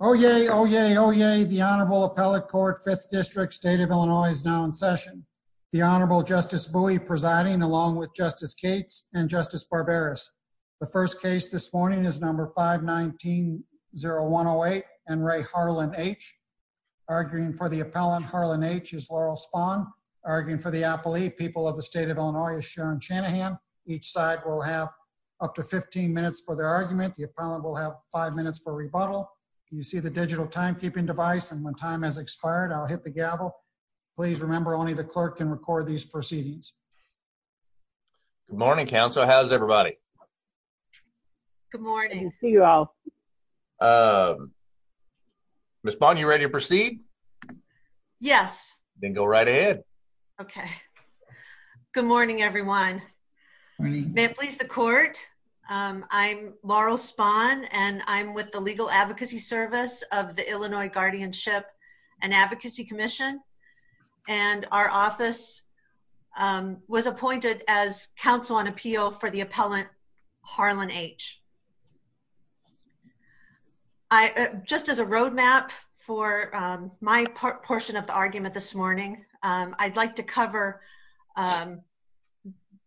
Oh, yay. Oh, yay. Oh, yay. The Honorable Appellate Court, 5th District, State of Illinois is now in session. The Honorable Justice Bowie presiding along with Justice Cates and Justice Barberis. The first case this morning is number 519-0108, Enri Harlin H. Arguing for the appellant, Harlin H., is Laurel Spahn. Arguing for the appellee, people of the State of Illinois, Sharon Shanahan. Each side will have up to 15 minutes for their argument. The appellant will have five minutes for rebuttal. You see the digital timekeeping device, and when time has expired, I'll hit the gavel. Please remember only the clerk can record these proceedings. Good morning, counsel. How's everybody? Good morning. Ms. Spahn, you ready to proceed? Yes. Then go right ahead. Okay. Good morning, everyone. May it please the court, I'm Laurel Spahn, and I'm with the Legal Advocacy Service of the Illinois Guardianship and Advocacy Commission, and our office was appointed as counsel on appeal for the appellant, Harlin H. Just as a road map for my portion of the argument this morning, I'd like to cover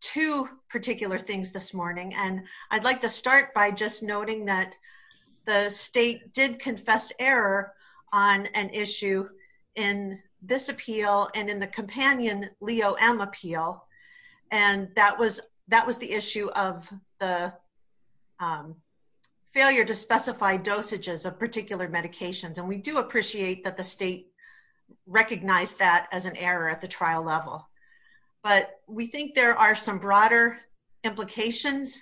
two particular things this morning, and I'd like to start by just noting that the state did confess error on an issue in this appeal and in the companion Leo M. appeal, and that was the issue of the failure to specify dosages of particular medications. We do appreciate that the state recognized that as an error at the trial level, but we think there are some broader implications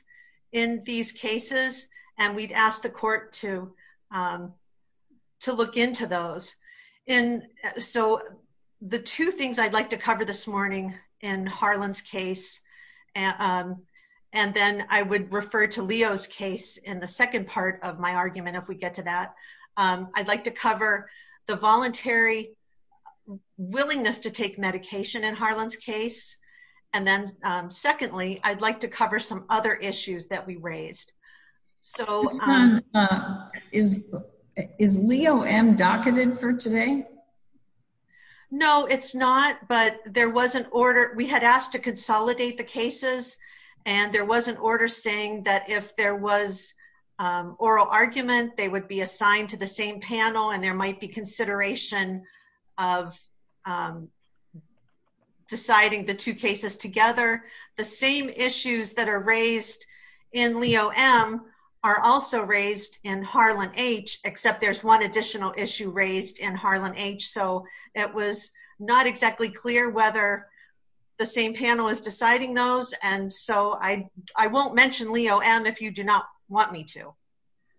in these cases, and we'd ask the court to look into those. And so the two things I'd like to cover this morning in Harlin's case, and then I would refer to Leo's case in the second part of my argument if we get to that. I'd like to cover the voluntary willingness to take medication in Harlin's case, and then secondly, I'd like to cover some other issues that we raised. Is Leo M. docketed for today? No, it's not, but we had asked to consolidate the cases, and there was an order saying that if there was oral argument, they would be assigned to the same panel, and there might be consideration of deciding the two cases together. The same issues that are raised in Leo M. are also raised in Harlin H., except there's one additional issue raised in Harlin H., so it was not exactly clear whether the same panel is deciding those, and so I won't mention Leo M. if you do not want me to.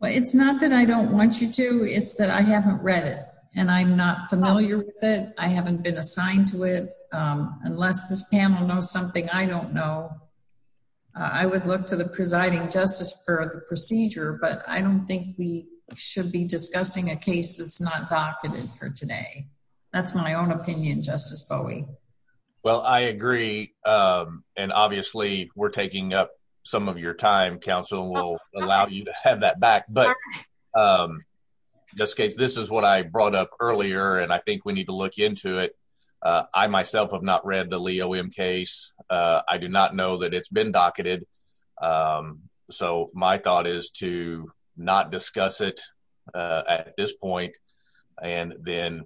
Well, it's not that I don't want you to, it's that I haven't read it, and I'm not familiar with it. I haven't been assigned to it. Unless this panel knows something I don't know, I would look to the presiding justice for the procedure, but I don't think we should be discussing a case that's not docketed for today. That's my own opinion, Justice Bowie. Well, I agree, and obviously we're taking up some of your time, counsel, and we'll allow you to have that back, but in this case, this is what I brought up earlier, and I think we need to look into it. I myself have not read the Leo M. case. I do not know that it's been docketed, so my thought is to not discuss it at this point, and then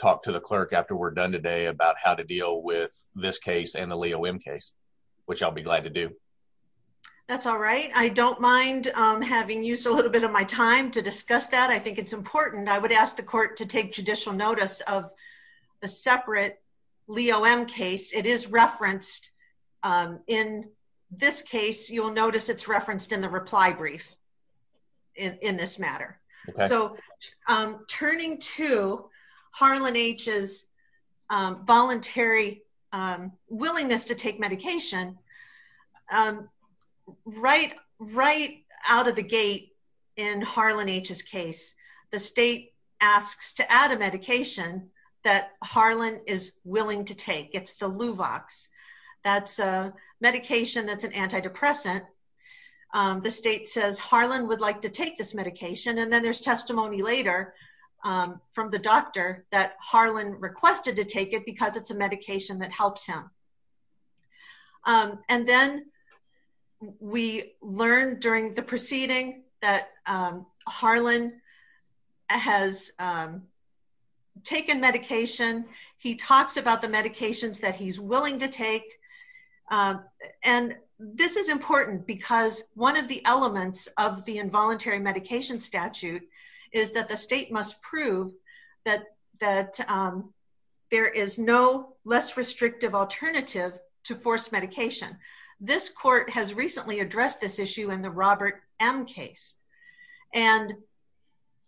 talk to the clerk after we're done today about how to deal with this case and the Leo M. case, which I'll be glad to do. That's all right. I don't mind having used a little bit of my time to discuss that. I think it's important. I would ask the court to take judicial notice of the separate Leo M. case. It is referenced in this case. You will notice it's referenced in the reply brief in this matter, so turning to Harlan H.'s voluntary willingness to take medication, right out of the gate in Harlan H.'s case, the state asks to add a medication that Harlan is willing to take. It's the Luvox. That's a medication that's an antidepressant. The state says Harlan would like to take this medication, and then there's testimony later from the doctor that Harlan requested to take it because it's a medication that helps him. Then we learn during the proceeding that Harlan has taken medication. He talks about the medications that he's willing to take. This is important because one of the elements of the involuntary medication statute is that the state must prove that there is no less restrictive alternative to forced medication. This court has recently addressed this issue in the Robert M. case. And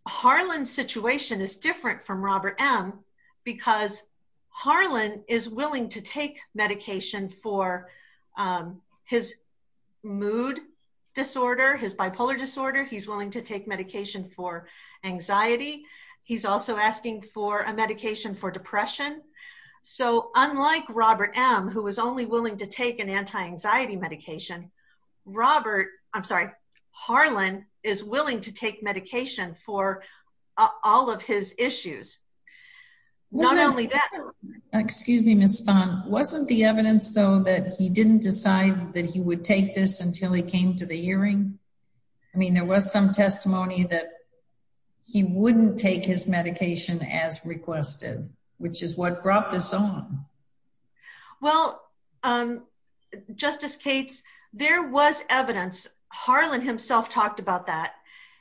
Harlan's situation is different from Robert M. because Harlan is willing to take medication for his mood disorder, his bipolar disorder. He's willing to take medication for anxiety. He's also asking for a medication for depression. Unlike Robert M., who was only willing to take anti-anxiety medication, Harlan is willing to take medication for all of his issues. Excuse me, Ms. Spahn. Wasn't the evidence, though, that he didn't decide that he would take this until he came to the hearing? I mean, there was some testimony that he wouldn't take his medication as requested, which is what brought this on. Well, Justice Cates, there was evidence. Harlan himself talked about that.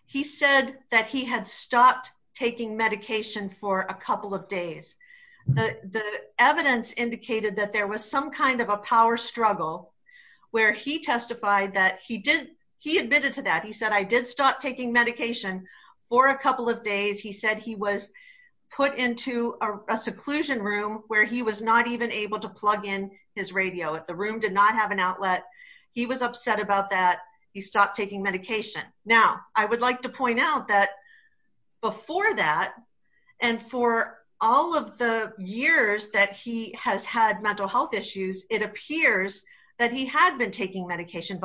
He said that he had stopped taking medication for a couple of days. The evidence indicated that there was some kind of a power struggle where he testified that he admitted to that. He said, I did stop taking medication for a couple of days. He said he was put into a seclusion room where he was not even able to plug in his radio. The room did not have an outlet. He was upset about that. He stopped taking medication. Now, I would like to point out that before that, and for all of the years that he has had mental health issues, it appears that he would have been taking medication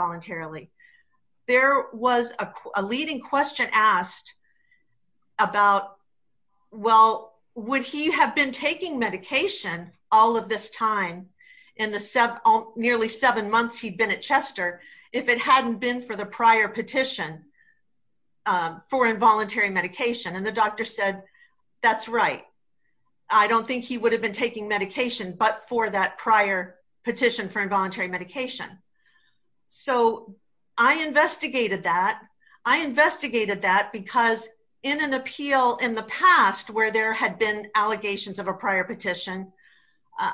all of this time in the nearly seven months he'd been at Chester if it hadn't been for the prior petition for involuntary medication. The doctor said, that's right. I don't think he would have been taking medication, but for that prior petition for involuntary medication. I investigated that. I investigated that because in an appeal in the past where there had been allegations of a prior petition,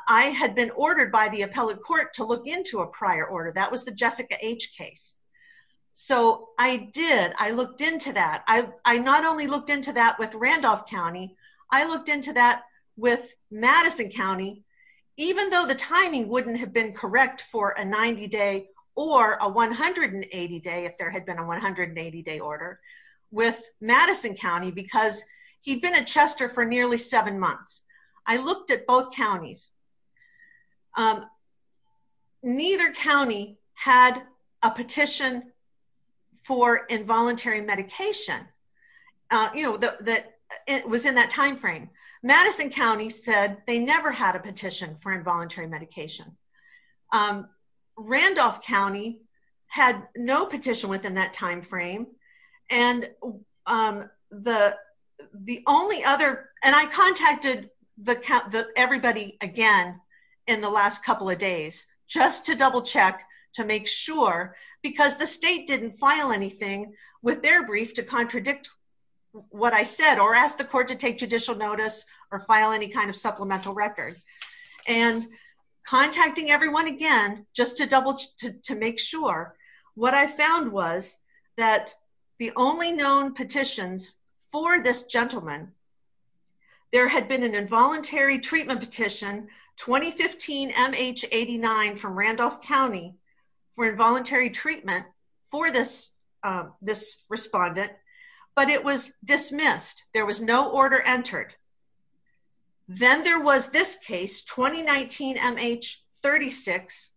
I had been ordered by the appellate court to look into a prior order. That was the Jessica H case. I did. I looked into that. I not only looked into that with Randolph County, I looked into that with Madison County, even though the timing wouldn't have been correct for a 90 day or a 180 day, if there had been a 180 day order with Madison County because he'd been at Chester for nearly seven months. I looked at both counties. Neither county had a petition for involuntary medication. It was in that timeframe. Madison County said they never had a petition for involuntary medication. Randolph County had no petition within that timeframe. I contacted everybody again in the last couple of days just to double check, to make sure, because the state didn't file anything with their brief to contradict what I said or ask the court to take judicial notice or file any kind of supplemental record. Contacting everyone again just to make sure, what I found was that the only known petitions for this gentleman, there had been an involuntary treatment petition, 2015 MH89 from Randolph County for involuntary treatment for this respondent, but it was dismissed. There was no order entered. Then there was this case, 2019 MH36.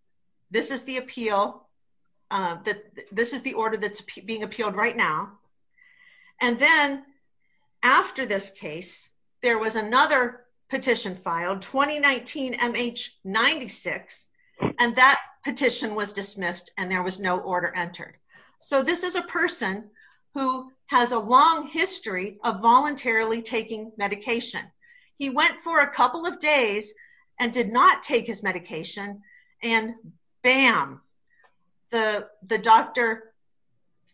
This is the order that's being appealed right now. Then after this case, there was another petition filed, 2019 MH96, and that petition was dismissed and there was no order entered. This is a person who has a long history of voluntarily taking medication. He went for a couple of days and did not take his medication, and bam, the doctor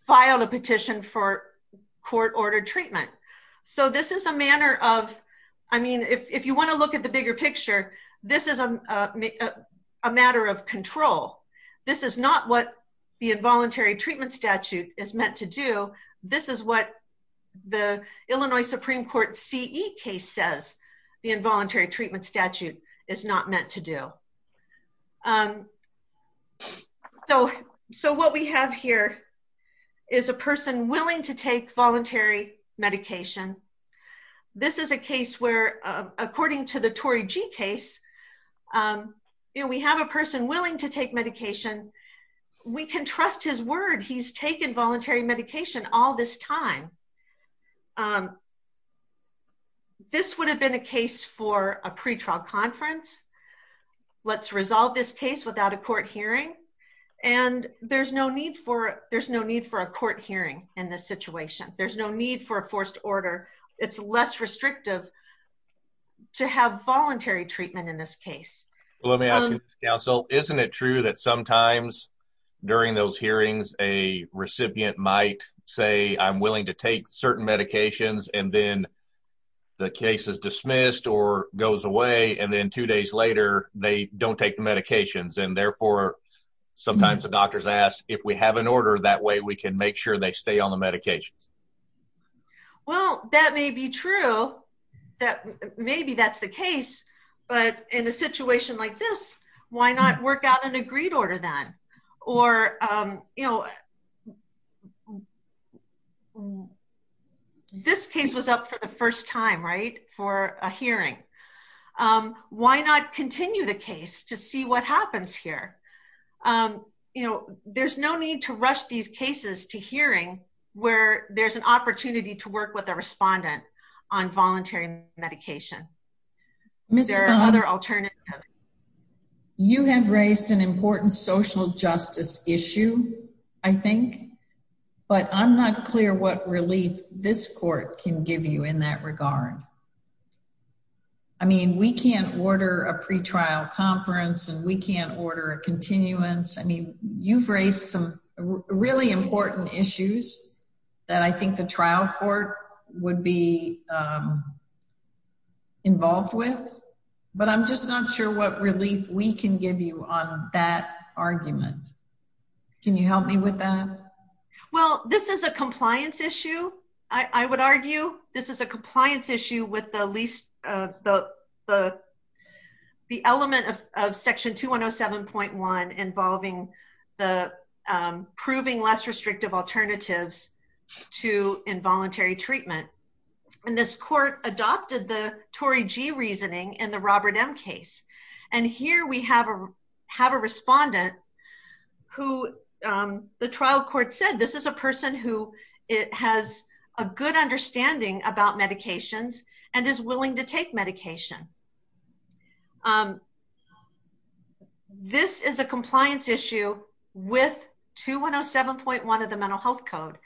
filed a petition for court-ordered treatment. If you want to look at the bigger the involuntary treatment statute is meant to do, this is what the Illinois Supreme Court CE case says the involuntary treatment statute is not meant to do. What we have here is a person willing to take voluntary medication. This is a case where, according to the Tory G case, we have a person willing to take medication. We can trust his word. He's taken voluntary medication all this time. This would have been a case for a pretrial conference. Let's resolve this case without a court hearing. There's no need for a court hearing in this situation. There's no need for forced order. It's less restrictive to have voluntary treatment in this case. Isn't it true that sometimes during those hearings, a recipient might say, I'm willing to take certain medications, and then the case is dismissed or goes away, and then two days later, they don't take the medications. Therefore, sometimes the doctors ask, if we have an order, that way we can make sure they stay on the course. That may be true. Maybe that's the case, but in a situation like this, why not work out an agreed order then? This case was up for the first time for a hearing. Why not continue the case to see what happens here? There's no need to rush these cases to respond on voluntary medication. There are other alternatives. You have raised an important social justice issue, I think, but I'm not clear what relief this court can give you in that regard. I mean, we can't order a pretrial conference, and we can't order a continuance. I mean, you've raised some really important issues that I think the trial court would be involved with, but I'm just not sure what relief we can give you on that argument. Can you help me with that? Well, this is a compliance issue, I would argue. This is a compliance issue with the element of Section 2107.1 involving the proving less restrictive alternatives to involuntary treatment. This court adopted the Tory G. reasoning in the Robert M. case. Here we have a respondent who the trial court said, this is a person who has a good understanding about medications and is willing to take medication. This is a compliance issue with 2107.1 of the Mental Health Code.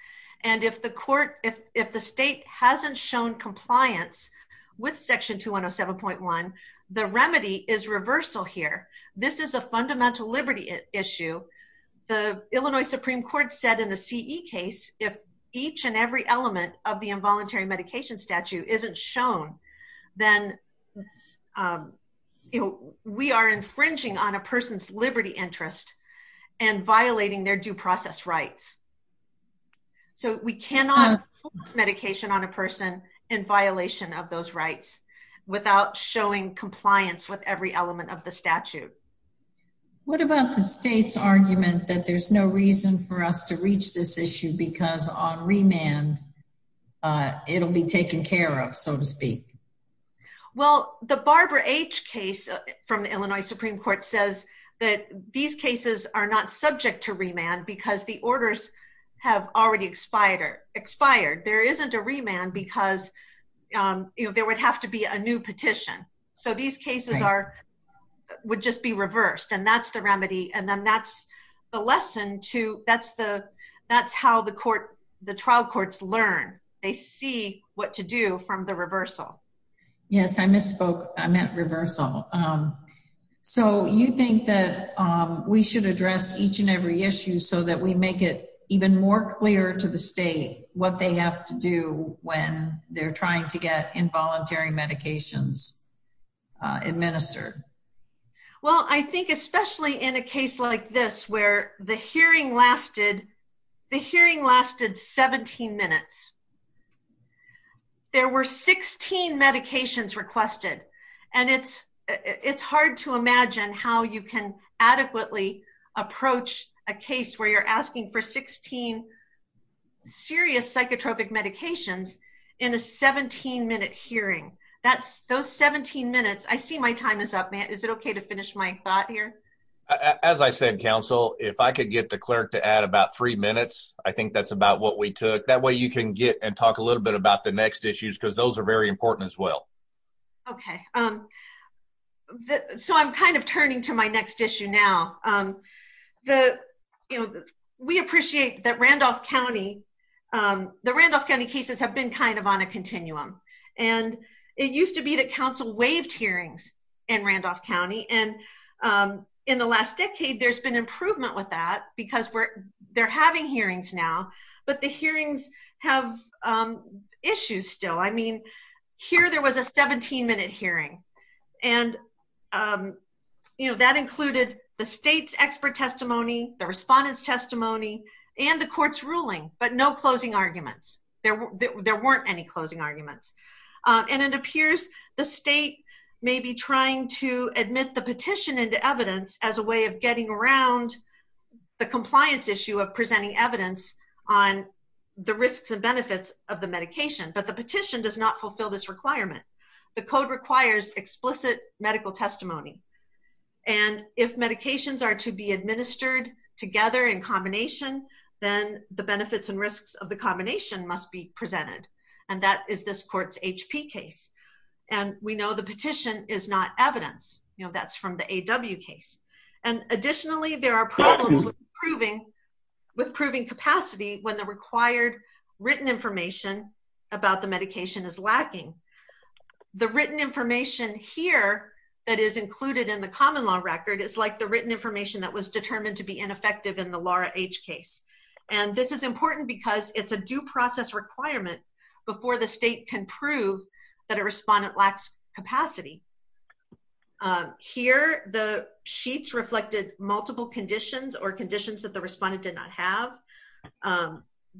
And if the state hasn't shown compliance with Section 2107.1, the remedy is reversal here. This is a fundamental liberty issue. The Illinois Supreme Court said in the C.E. case, if each and every element of the statute, we are infringing on a person's liberty interest and violating their due process rights. So we cannot force medication on a person in violation of those rights without showing compliance with every element of the statute. What about the state's argument that there's no reason for us to reach this issue because on remand, it'll be taken care of, so to speak? Well, the Barbara H. case from the Illinois Supreme Court says that these cases are not subject to remand because the orders have already expired. There isn't a remand because there would have to be a new petition. So these cases would just be reversed. And that's the Yes, I misspoke. I meant reversal. So you think that we should address each and every issue so that we make it even more clear to the state what they have to do when they're trying to get involuntary medications administered? Well, I think especially in a case like this, the hearing lasted 17 minutes. There were 16 medications requested. And it's hard to imagine how you can adequately approach a case where you're asking for 16 serious psychotropic medications in a 17-minute hearing. Those 17 minutes, I see my time is up. Is it okay to finish my thought here? As I said, counsel, if I could get the clerk to add about three minutes, I think that's about what we took. That way you can get and talk a little bit about the next issues because those are very important as well. Okay. So I'm kind of turning to my next issue now. We appreciate that the Randolph County cases have been kind of on a continuum. And it used to be that hearings in Randolph County. And in the last decade, there's been improvement with that because they're having hearings now, but the hearings have issues still. I mean, here there was a 17-minute hearing. And that included the state's expert testimony, the respondent's testimony, and the court's ruling, but no closing arguments. There weren't any closing arguments. And it appears the state may be trying to admit the petition into evidence as a way of getting around the compliance issue of presenting evidence on the risks and benefits of the medication, but the petition does not fulfill this requirement. The code requires explicit medical testimony. And if medications are to be administered together in combination, then the benefits and risks of the combination must be presented. And that is this court's HP case. And we know the petition is not evidence. That's from the AW case. And additionally, there are problems with proving capacity when the required written information about the medication is lacking. The written information here that is included in the common law record is like the And this is important because it's a due process requirement before the state can prove that a respondent lacks capacity. Here, the sheets reflected multiple conditions or conditions that the respondent did not have.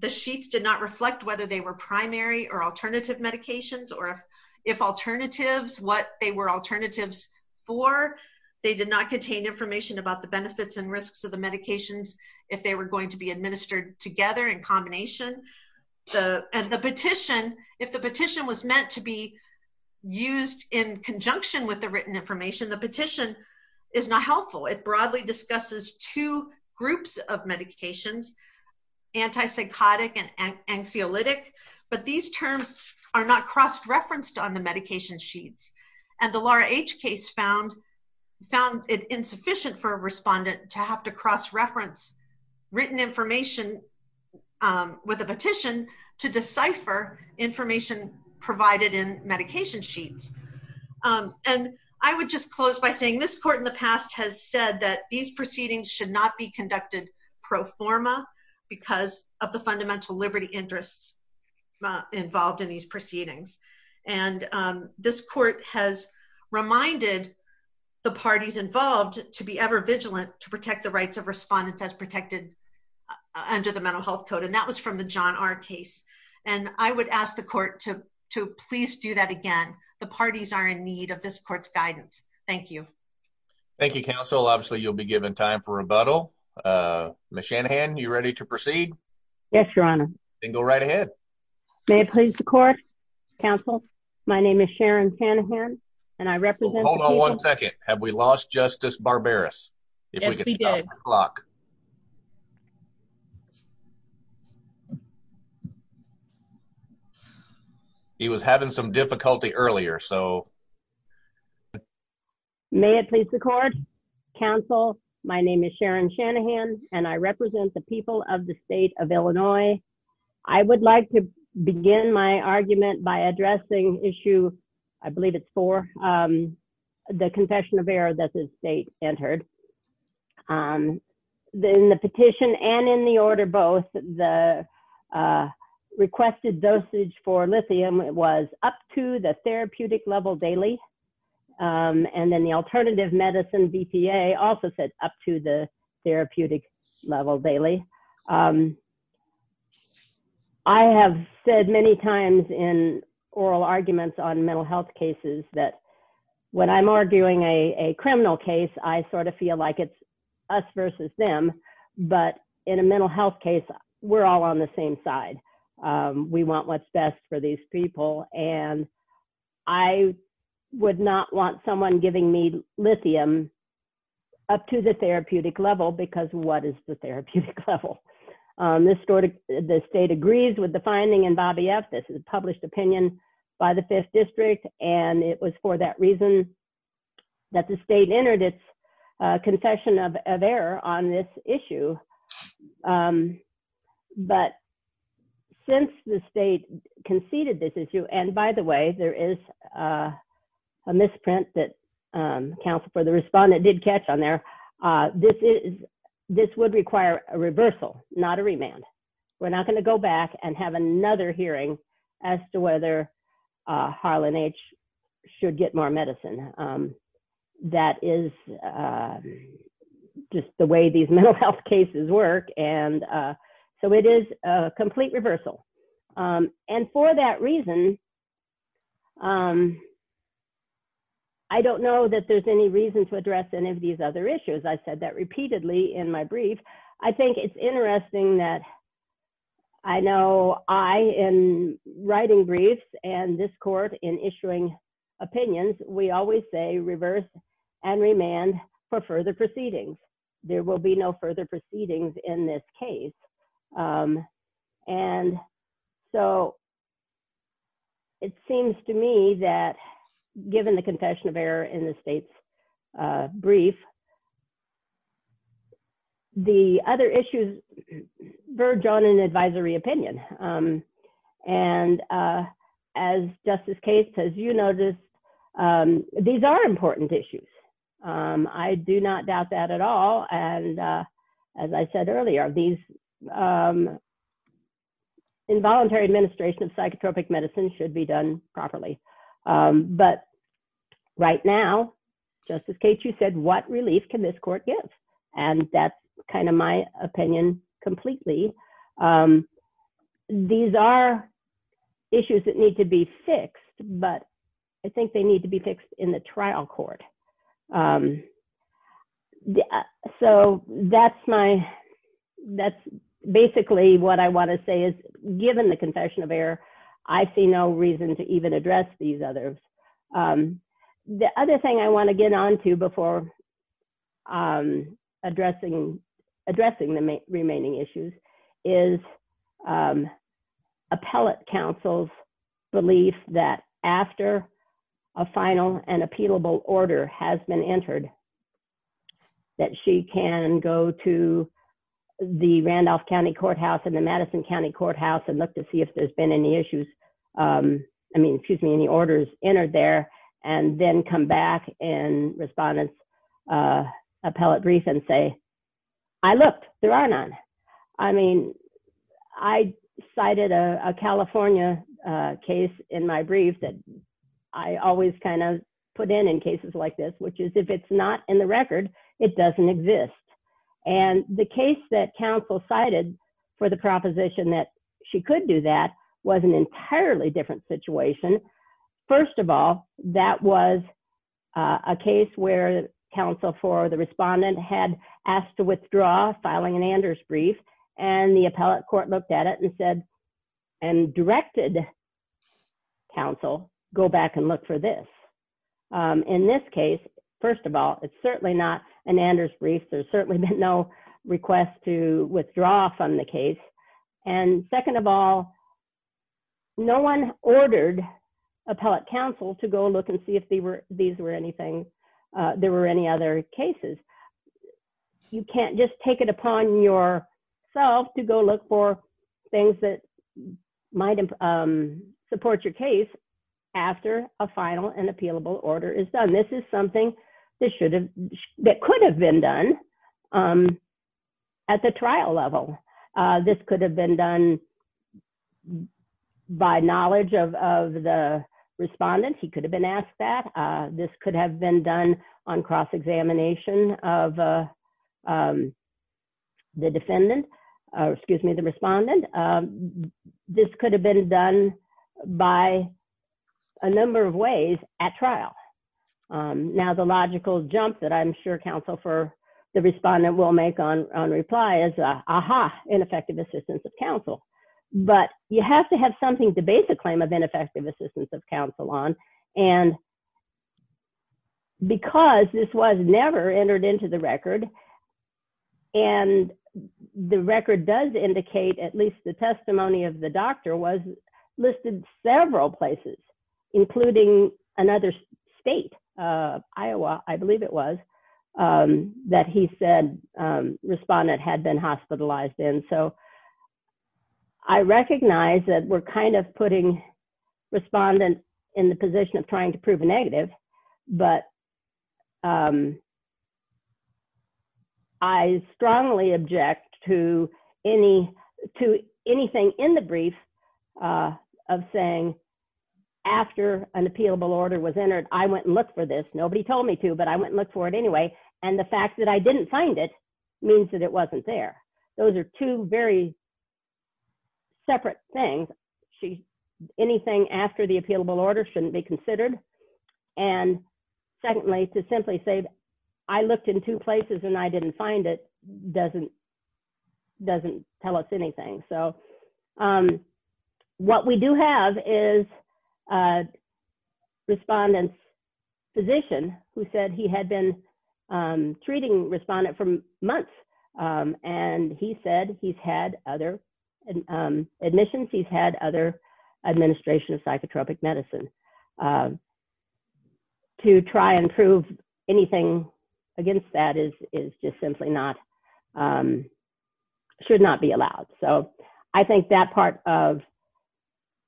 The sheets did not reflect whether they were primary or alternative medications or if alternatives, what they were alternatives for. They did not contain information about the benefits and risks of the medications if they were going to be administered together in combination. And the petition, if the petition was meant to be used in conjunction with the written information, the petition is not helpful. It broadly discusses two groups of medications, antipsychotic and anxiolytic. But these terms are not cross-referenced on the respondent to have to cross-reference written information with a petition to decipher information provided in medication sheets. And I would just close by saying this court in the past has said that these proceedings should not be conducted pro forma because of the fundamental liberty interests involved in these proceedings. And this court has reminded the parties involved to be ever vigilant to protect the rights of respondents as protected under the mental health code. And that was from the John R case. And I would ask the court to please do that again. The parties are in need of this court's guidance. Thank you. Thank you, counsel. Obviously, you'll be given time for rebuttal. Ms. Shanahan, you ready to proceed? Yes, your honor. Then go right ahead. May it please the court, counsel. My name is Sharon Shanahan and I represent... Hold on one second. Have we lost Justice Barbaras? Yes, we did. He was having some difficulty earlier, so... May it please the court, counsel. My name is Sharon Shanahan and I represent the people of the state of Illinois. I would like to begin my argument by addressing issue, I believe it's four, the confession of error that the state entered. In the petition and in the order both, the requested dosage for lithium was up to the therapeutic level daily. And then the alternative medicine, BPA, also said up to the therapeutic level daily. I have said many times in oral arguments on mental health cases that when I'm arguing a criminal case, I sort of feel like it's us versus them. But in a mental health case, we're all on the same side. We want what's best for these people. And I would not want someone giving me lithium up to the therapeutic level, because what is the therapeutic level? The state agrees with the finding in Bobby F. This is a published opinion by the fifth district. And it was for that reason that the state entered its confession of error on this issue. But since the state conceded this issue, and by the way, there is a misprint that counsel for the respondent did catch on there. This would require a reversal, not a remand. We're not going to go back and have another hearing as to whether Harlan H. should get more medicine. That is just the way these mental health cases work. And so it is a complete reversal. And for that reason, I don't know that there's any reason to address any of these other issues. I've said that repeatedly in my brief. I think it's interesting that I know I am writing briefs and this court in issuing opinions, we always say reverse and remand for further proceedings. There will be no further proceedings in this case. And so it seems to me that given the confession of error in the state's brief, the other issues verge on an advisory opinion. And as Justice Cates says, you know, these are important issues. I do not doubt that at all. And as I said earlier, these involuntary administration of psychotropic medicine should be done properly. But right now, Justice Cates, you said what relief can this court give? And that's kind of my opinion completely. These are issues that need to be fixed, but I think they need to be fixed in the trial court. So that's basically what I want to say is given the confession of error, I see no reason to even address these others. The other thing I want to get onto before addressing the remaining issues is appellate counsel's belief that after a final and appealable order has been entered, that she can go to the Randolph County Courthouse and the Madison County Courthouse and look to see if there's been any issues, I mean, excuse me, any orders entered there, and then come back and respond in an appellate brief and say, I looked, there are none. I mean, I cited a California case in my brief that I always kind of put in in cases like this, which is if it's not in the an entirely different situation. First of all, that was a case where counsel for the respondent had asked to withdraw filing an Anders brief, and the appellate court looked at it and said, and directed counsel, go back and look for this. In this case, first of all, it's certainly not an Anders brief. There's certainly been no request to withdraw from the case. And second of all, no one ordered appellate counsel to go look and see if these were anything, there were any other cases. You can't just take it upon yourself to go look for things that might support your case after a final and appealable order is done. This is something that could have been done at the trial level. This could have been done by knowledge of the respondent. He could have been asked that. This could have been done on cross-examination of the defendant, excuse me, the respondent. This could have been done by a number of ways at trial. Now, the logical jump that I'm sure counsel for the respondent will make on reply is, aha, ineffective assistance of counsel. But you have to have something to base a claim of ineffective assistance of counsel on. And because this was never entered into the record, and the record does indicate at least the testimony of the doctor was listed several places, including another state, Iowa, I believe it was, that he said respondent had been hospitalized in. So I recognize that we're kind of putting respondent in the position of trying to prove a negative, but I strongly object to anything in the brief of saying, after an appealable order was entered, I went and looked for this. Nobody told me to, but I went and looked for it anyway. And the fact that I didn't find it means that it wasn't there. Those are two very separate things. Anything after the appealable order shouldn't be considered. And secondly, to simply say, I looked in two places and I didn't find it, doesn't tell us anything. So what we do have is a respondent's physician who said he had been treating respondent for months. And he said he's had other admissions, he's had other administration of psychotropic medicine. To try and prove anything against that is just simply not, should not be allowed. So I think that part of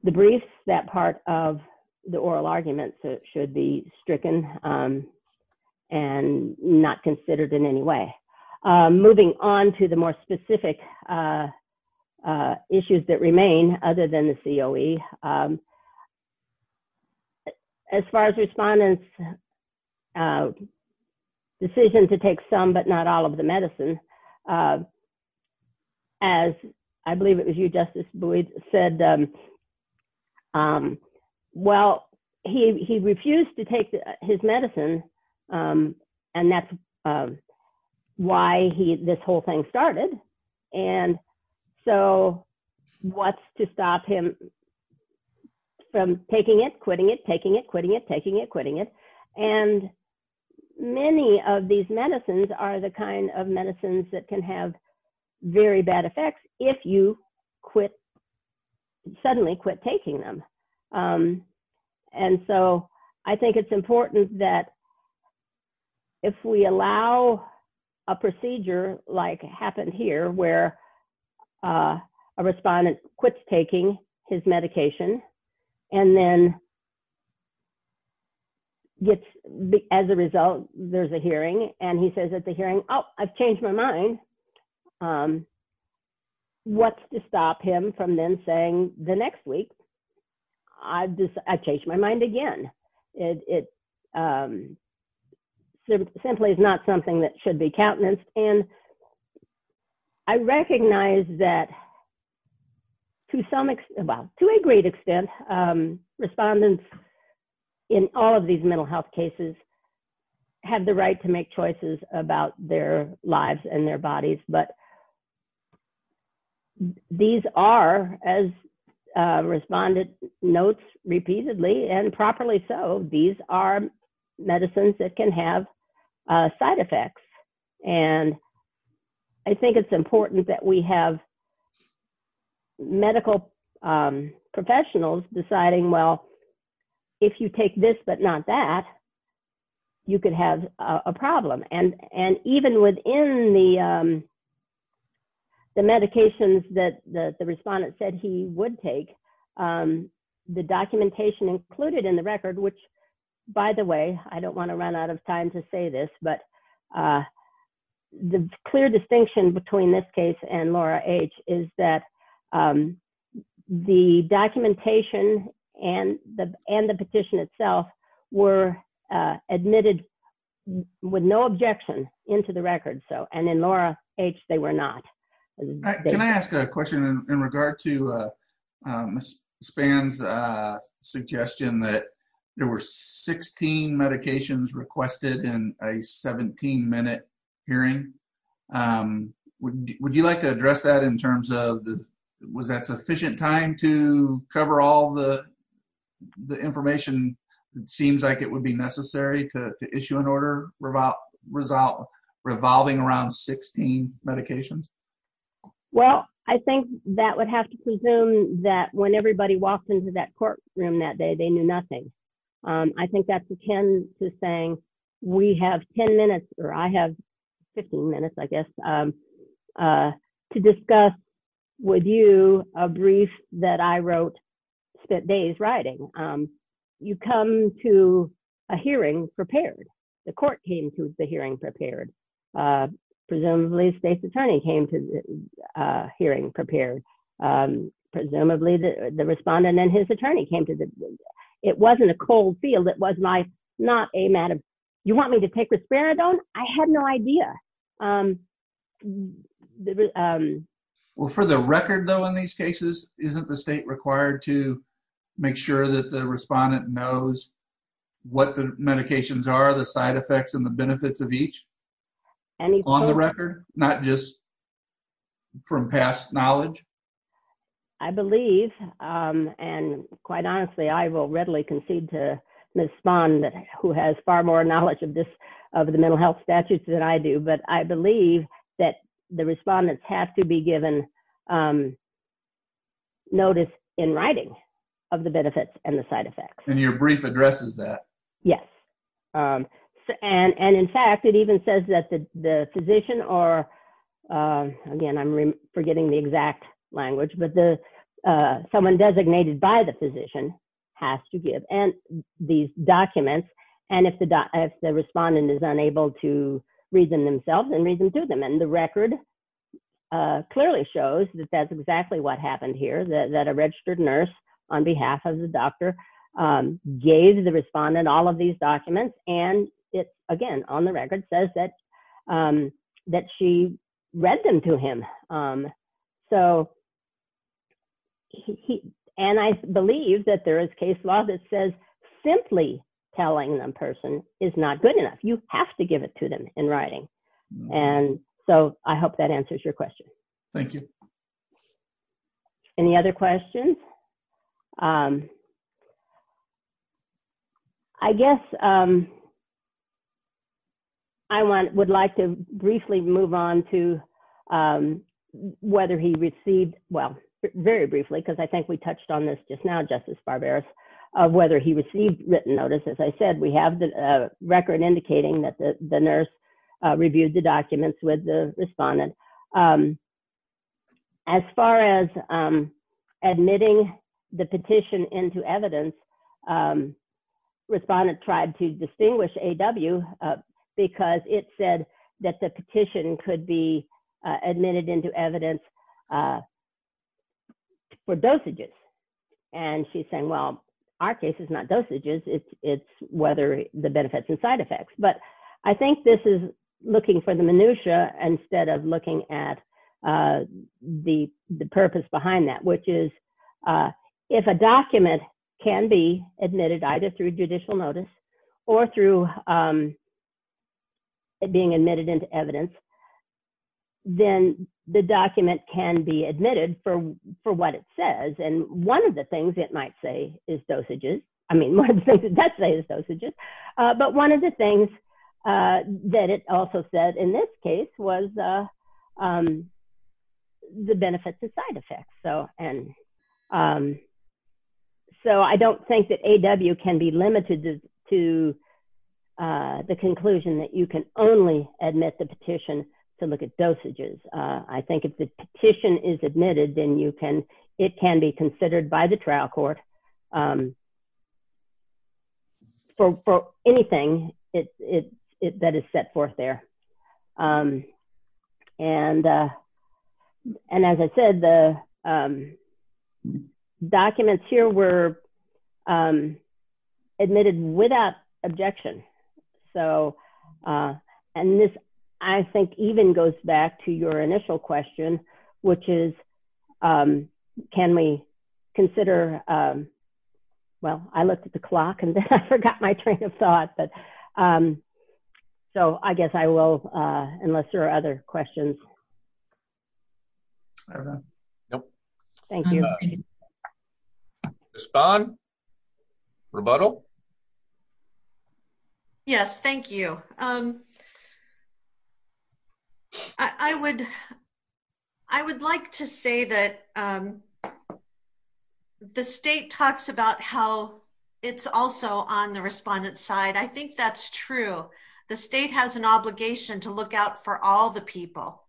the brief, that part of the oral argument should be stricken and not considered in any way. Moving on to the more specific issues that remain, other than the COE, as far as respondent's decision to take some, but not all of the medicine, as I believe it was you Justice Boyd said, well, he refused to take his medicine. And that's why this whole thing started. And so what's to stop him from taking it, quitting it, taking it, quitting it, taking it, quitting it. And many of these medicines are the kind of medicines that can have very bad effects if you quit, suddenly quit taking them. And so I think it's important that if we allow a procedure like happened here, where a respondent quits taking his medication and then gets, as a result, there's a hearing and he says at the hearing, oh, I've changed my mind. What's to stop him from then saying the next week, I've just, I've changed my mind again. It simply is not something that should be countenanced. And I recognize that to some extent, well, to a great extent, respondents in all of these mental health cases have the right to make choices about their lives and their bodies. But these are, as a respondent notes repeatedly and properly so, these are medicines that can have side effects. And I think it's important that we have medical professionals deciding, well, if you take this, but not that, you could have a problem. And even within the medications that the respondent said he would take, the documentation included in the record, which by the way, I don't want to run out of time to say this, but the clear distinction between this case and Laura H. is that the documentation and the petition itself were admitted with no objection into the record. So, and in Laura H., they were not. Can I ask a question in regard to Ms. Spann's suggestion that there were 16 medications requested in a 17-minute hearing? Would you like to address that in terms of, was that sufficient time to cover all the information that seems like it would be necessary to issue an order revolving around 16 medications? Well, I think that would have to presume that when everybody walked into that courtroom that day, they knew nothing. I think that's akin to saying, we have 10 minutes, or I have 15 minutes, I guess, to discuss with you a brief that I wrote, spent days writing. You come to a hearing prepared. The court came to the hearing prepared. Presumably, the state's attorney came to the hearing prepared. It wasn't a cold field. It was my, not a matter of, you want me to take risperidone? I had no idea. Well, for the record, though, in these cases, isn't the state required to make sure that the respondent knows what the medications are, the side effects, and the benefits of each on the record, not just from past knowledge? I believe, and quite honestly, I will readily concede to Ms. Spahn, who has far more knowledge of the mental health statutes than I do, but I believe that the respondents have to be given notice in writing of the benefits and the side effects. And your brief addresses that. Yes. And in fact, it even says that the physician or, again, I'm forgetting the exact language, but someone designated by the physician has to give these documents. And if the respondent is unable to read them themselves, then read them to them. And the record clearly shows that that's exactly what happened here, that a registered nurse, on behalf of the doctor, gave the respondent all of these documents. And it, again, on the record, says that she read them to him. And I believe that there is case law that says simply telling the person is not good enough. You have to give it to them in writing. And so I hope that answers your question. Thank you. Any other questions? I guess I would like to briefly move on to whether he received, well, very briefly, because I think we touched on this just now, Justice Barberos, of whether he received written notices. I said we have the record indicating that the nurse reviewed the documents with the admitting the petition into evidence. Respondent tried to distinguish A.W. because it said that the petition could be admitted into evidence for dosages. And she's saying, well, our case is not dosages. It's whether the benefits and side effects. But I think this is looking for the minutiae instead of looking at the purpose behind that, which is if a document can be admitted either through judicial notice or through being admitted into evidence, then the document can be admitted for what it says. And one of the things it might say is dosages. I mean, one of the things it does say is dosages. But one of the things that it also said in this case was the benefits and side effects. So I don't think that A.W. can be limited to the conclusion that you can only admit the petition to look at dosages. I think if the petition is admitted, then it can be considered by the trial court for anything that is set forth there. And as I said, the documents here were admitted without objection. And this, I think, even goes back to your initial question, which is, can we consider, well, I looked at the clock and then I forgot my train of thought. So I guess I will, unless there are other questions. Thank you. Respond? Rebuttal? Yes, thank you. I would like to say that the state talks about how it's also on the respondent's side. I think that's true. The state has an obligation to look out for all the people.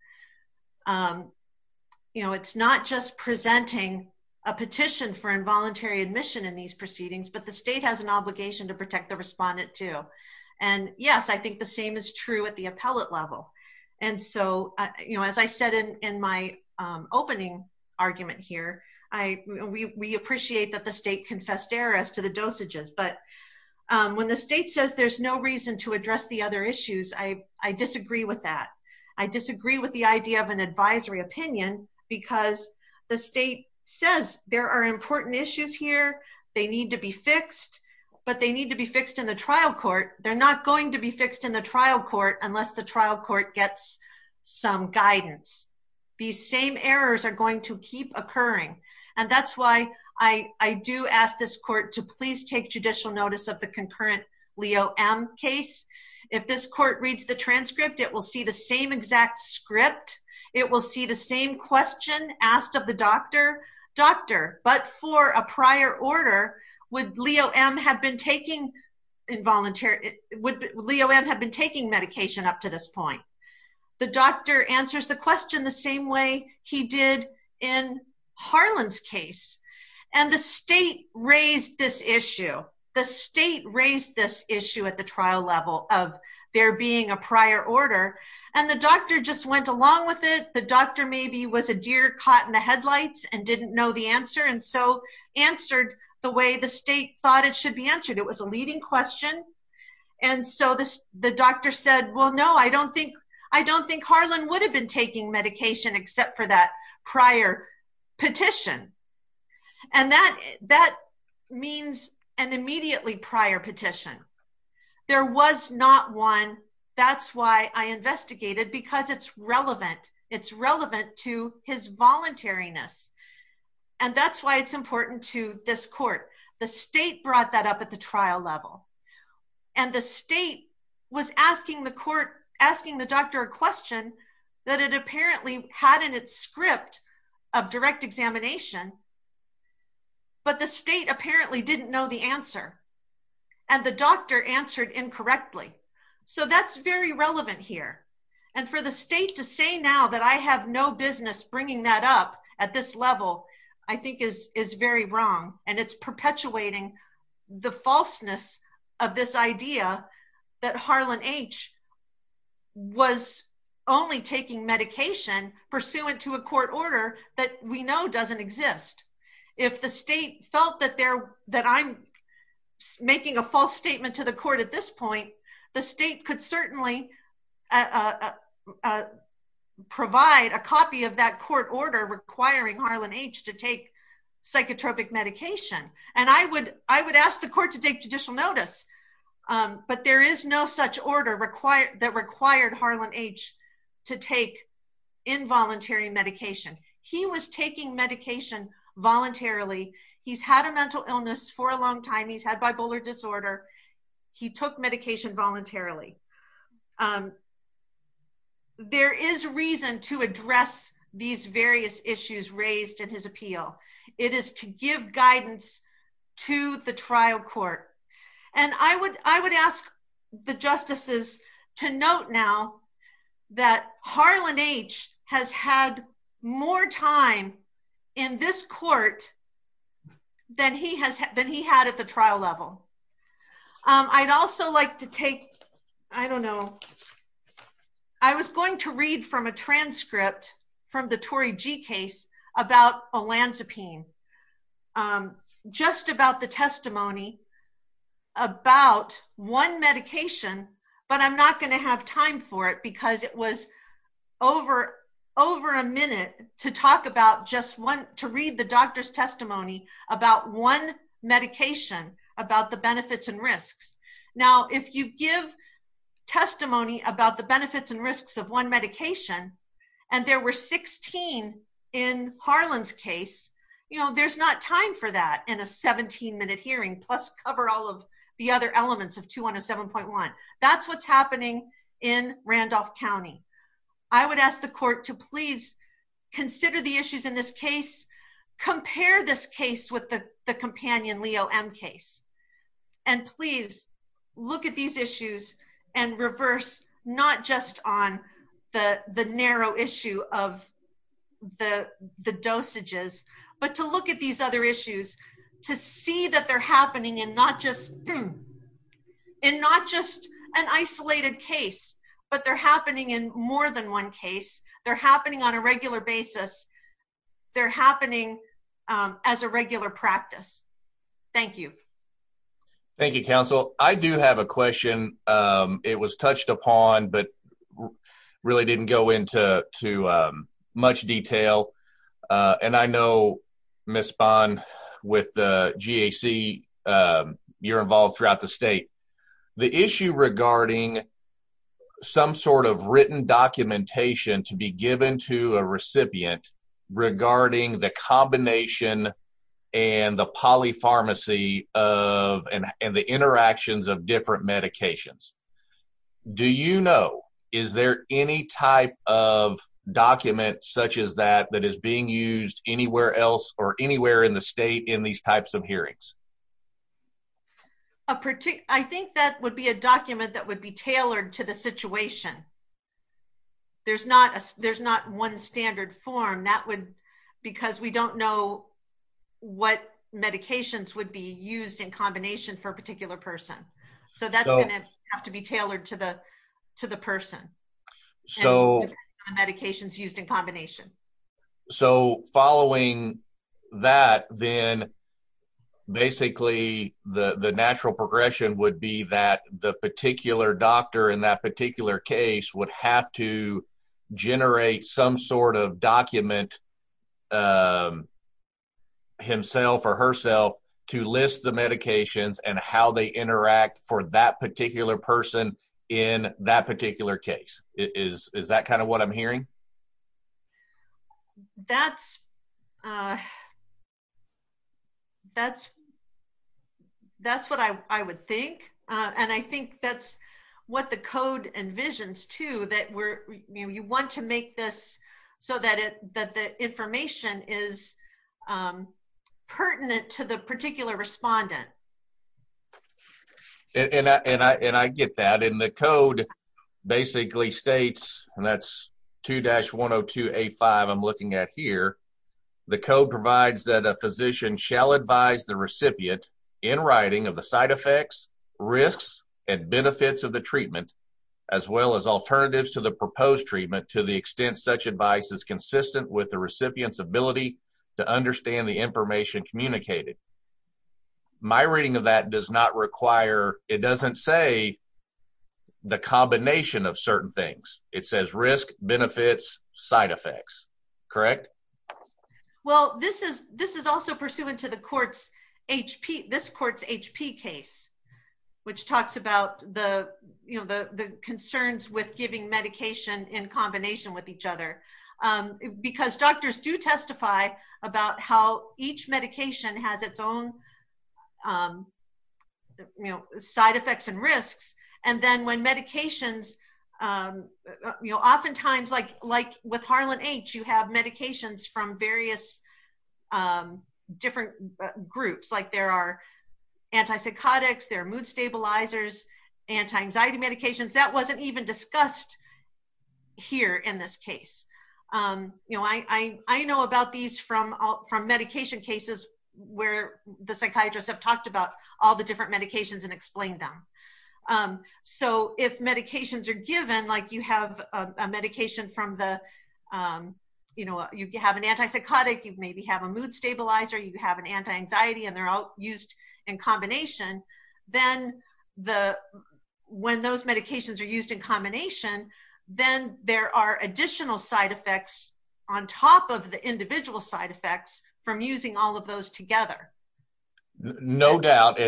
It's not just presenting a petition for involuntary admission in these proceedings, but the state has an obligation to protect the respondent too. And yes, I think the same is true at the appellate level. And so, as I said in my opening argument here, we appreciate that the state confessed error as to the dosages. But when the state says there's no reason to address the other issues, I disagree with that. I disagree with the idea of an advisory opinion because the state says there are important issues here. They need to be fixed, but they need to be fixed in the trial court. They're not going to be fixed in the trial court unless the trial court gets some guidance. These same errors are going to keep occurring. And that's why I do ask this court to please take judicial notice of the concurrent Leo M case. If this court reads the transcript, it will see the same exact script. It will see the same question asked of the doctor, but for a prior order, would Leo M have been taking medication up to this point? The doctor answers the question the same way he did in Harlan's case. And the state raised this issue. The state raised this issue at the trial level of there being a prior order. And the doctor just went along with it. The doctor maybe was a deer caught in the headlights and didn't know the answer and so answered the way the state thought it should be answered. It was a leading question. And so the doctor said, well, no, I don't think Harlan would have been taking medication except for that prior petition. And that means an immediately prior petition. There was not one. That's why I investigated, because it's relevant. It's relevant to his voluntariness. And that's why it's important to this court. The state brought that up at the trial level. And the state was asking the court, do you think Harlan H. was taking medication? But the state apparently didn't know the answer. And the doctor answered incorrectly. So that's very relevant here. And for the state to say now that I have no business bringing that up at this level, I think is very wrong. And it's perpetuating the falseness of this idea that Harlan H. was only taking medication pursuant to a court order that we know doesn't exist. If the state felt that I'm making a false statement to the court at this point, the state could certainly provide a copy of that court order requiring Harlan H. to take I would ask the court to take judicial notice. But there is no such order that required Harlan H. to take involuntary medication. He was taking medication voluntarily. He's had a mental illness for a long time. He's had bipolar disorder. He took medication voluntarily. There is reason to address these various issues raised in his appeal. It is to give guidance to the trial court. And I would ask the justices to note now that Harlan H. has had more time in this court than he had at the trial level. I'd also like to take, I don't know, I was going to read from a transcript from the Tory G case about olanzapine, just about the testimony about one medication, but I'm not going to have time for it because it was over a minute to talk about just one, to read the doctor's testimony about one medication, about the benefits and risks. Now, if you give testimony about the Harlan's case, there's not time for that in a 17-minute hearing, plus cover all of the other elements of 2107.1. That's what's happening in Randolph County. I would ask the court to please consider the issues in this case, compare this case with the companion Leo M case, and please look at these issues and reverse, not just on the narrow issue of the dosages, but to look at these other issues to see that they're happening in not just an isolated case, but they're happening in more than one case. They're happening on a regular basis. They're happening as a regular practice. Thank you. Thank you, counsel. I do have a question. It was touched upon, but really didn't go into too much detail, and I know, Ms. Bond, with the GAC, you're involved throughout the state. The issue regarding some sort of written documentation to be given to a recipient regarding the combination and the polypharmacy and the interactions of different medications. Do you know, is there any type of document such as that that is being used anywhere else or anywhere in the state in these types of hearings? I think that would be a document that would be tailored to the situation. There's not one standard form because we don't know what medications would be used in combination for a particular person. That's going to have to be tailored to the person and the medications used in combination. Following that, then, basically, the natural progression would be that the particular doctor in that particular case would have to generate some sort of document himself or herself to list the medications and how they interact for that particular person in that particular case. Is that kind of what I'm hearing? That's what I would think, and I think that's what the code envisions, too, that you want to make this so that the information is pertinent to the particular respondent. I get that. The code basically states, and that's 2-102A5 I'm looking at here. The code provides that a physician shall advise the recipient in writing of the side effects, risks, and benefits of the treatment as well as alternatives to the proposed treatment to the extent such advice is consistent with the recipient's ability to understand the treatment. It doesn't say the combination of certain things. It says risk, benefits, side effects. Correct? This is also pursuant to this court's HP case, which talks about the concerns with giving medication in combination with each other because doctors do testify about how each medication has its own side effects and risks. Oftentimes, like with Harlan H., you have medications from various different groups. There are antipsychotics, there are mood stabilizers, anti-anxiety medications. That wasn't even discussed here in this case. I know about these from medication cases where the psychiatrists have talked about all the different medications and explained them. If medications are given, like you have an antipsychotic, you maybe have a mood stabilizer, you have an anti-anxiety, and they're all used in combination, then when those medications are used in combination, then there are additional side effects on top of the individual side effects from using all of those together. No doubt.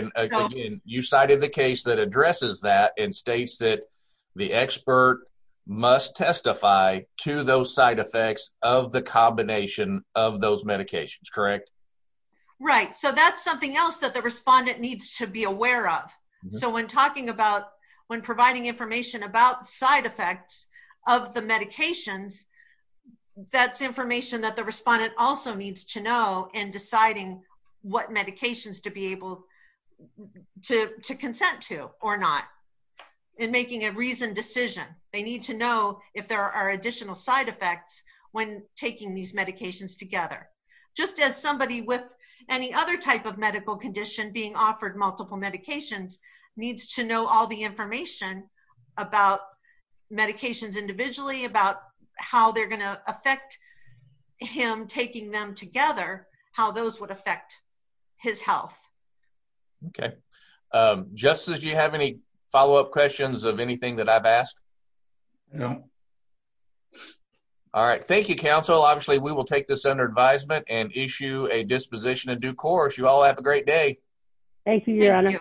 You cited the case that addresses that and states that the expert must testify to those side effects of the combination of those medications, correct? Right. That's something else that the respondent needs to be aware of. When providing information about side effects of the medications, that's information that the respondent also needs to know in deciding what medications to be able to consent to or not in making a reasoned decision. They need to know if there are additional side effects when taking these medications together. Just as somebody with any other type of medical condition being offered multiple medications needs to know all the information about medications individually, about how they're going to affect him taking them together, how those would affect his health. Okay. Justin, do you have any follow-up questions of anything that I've asked? No. All right. Thank you, counsel. Obviously, we will take this under advisement and issue a disposition of due course. You all have a great day. Thank you, your honor.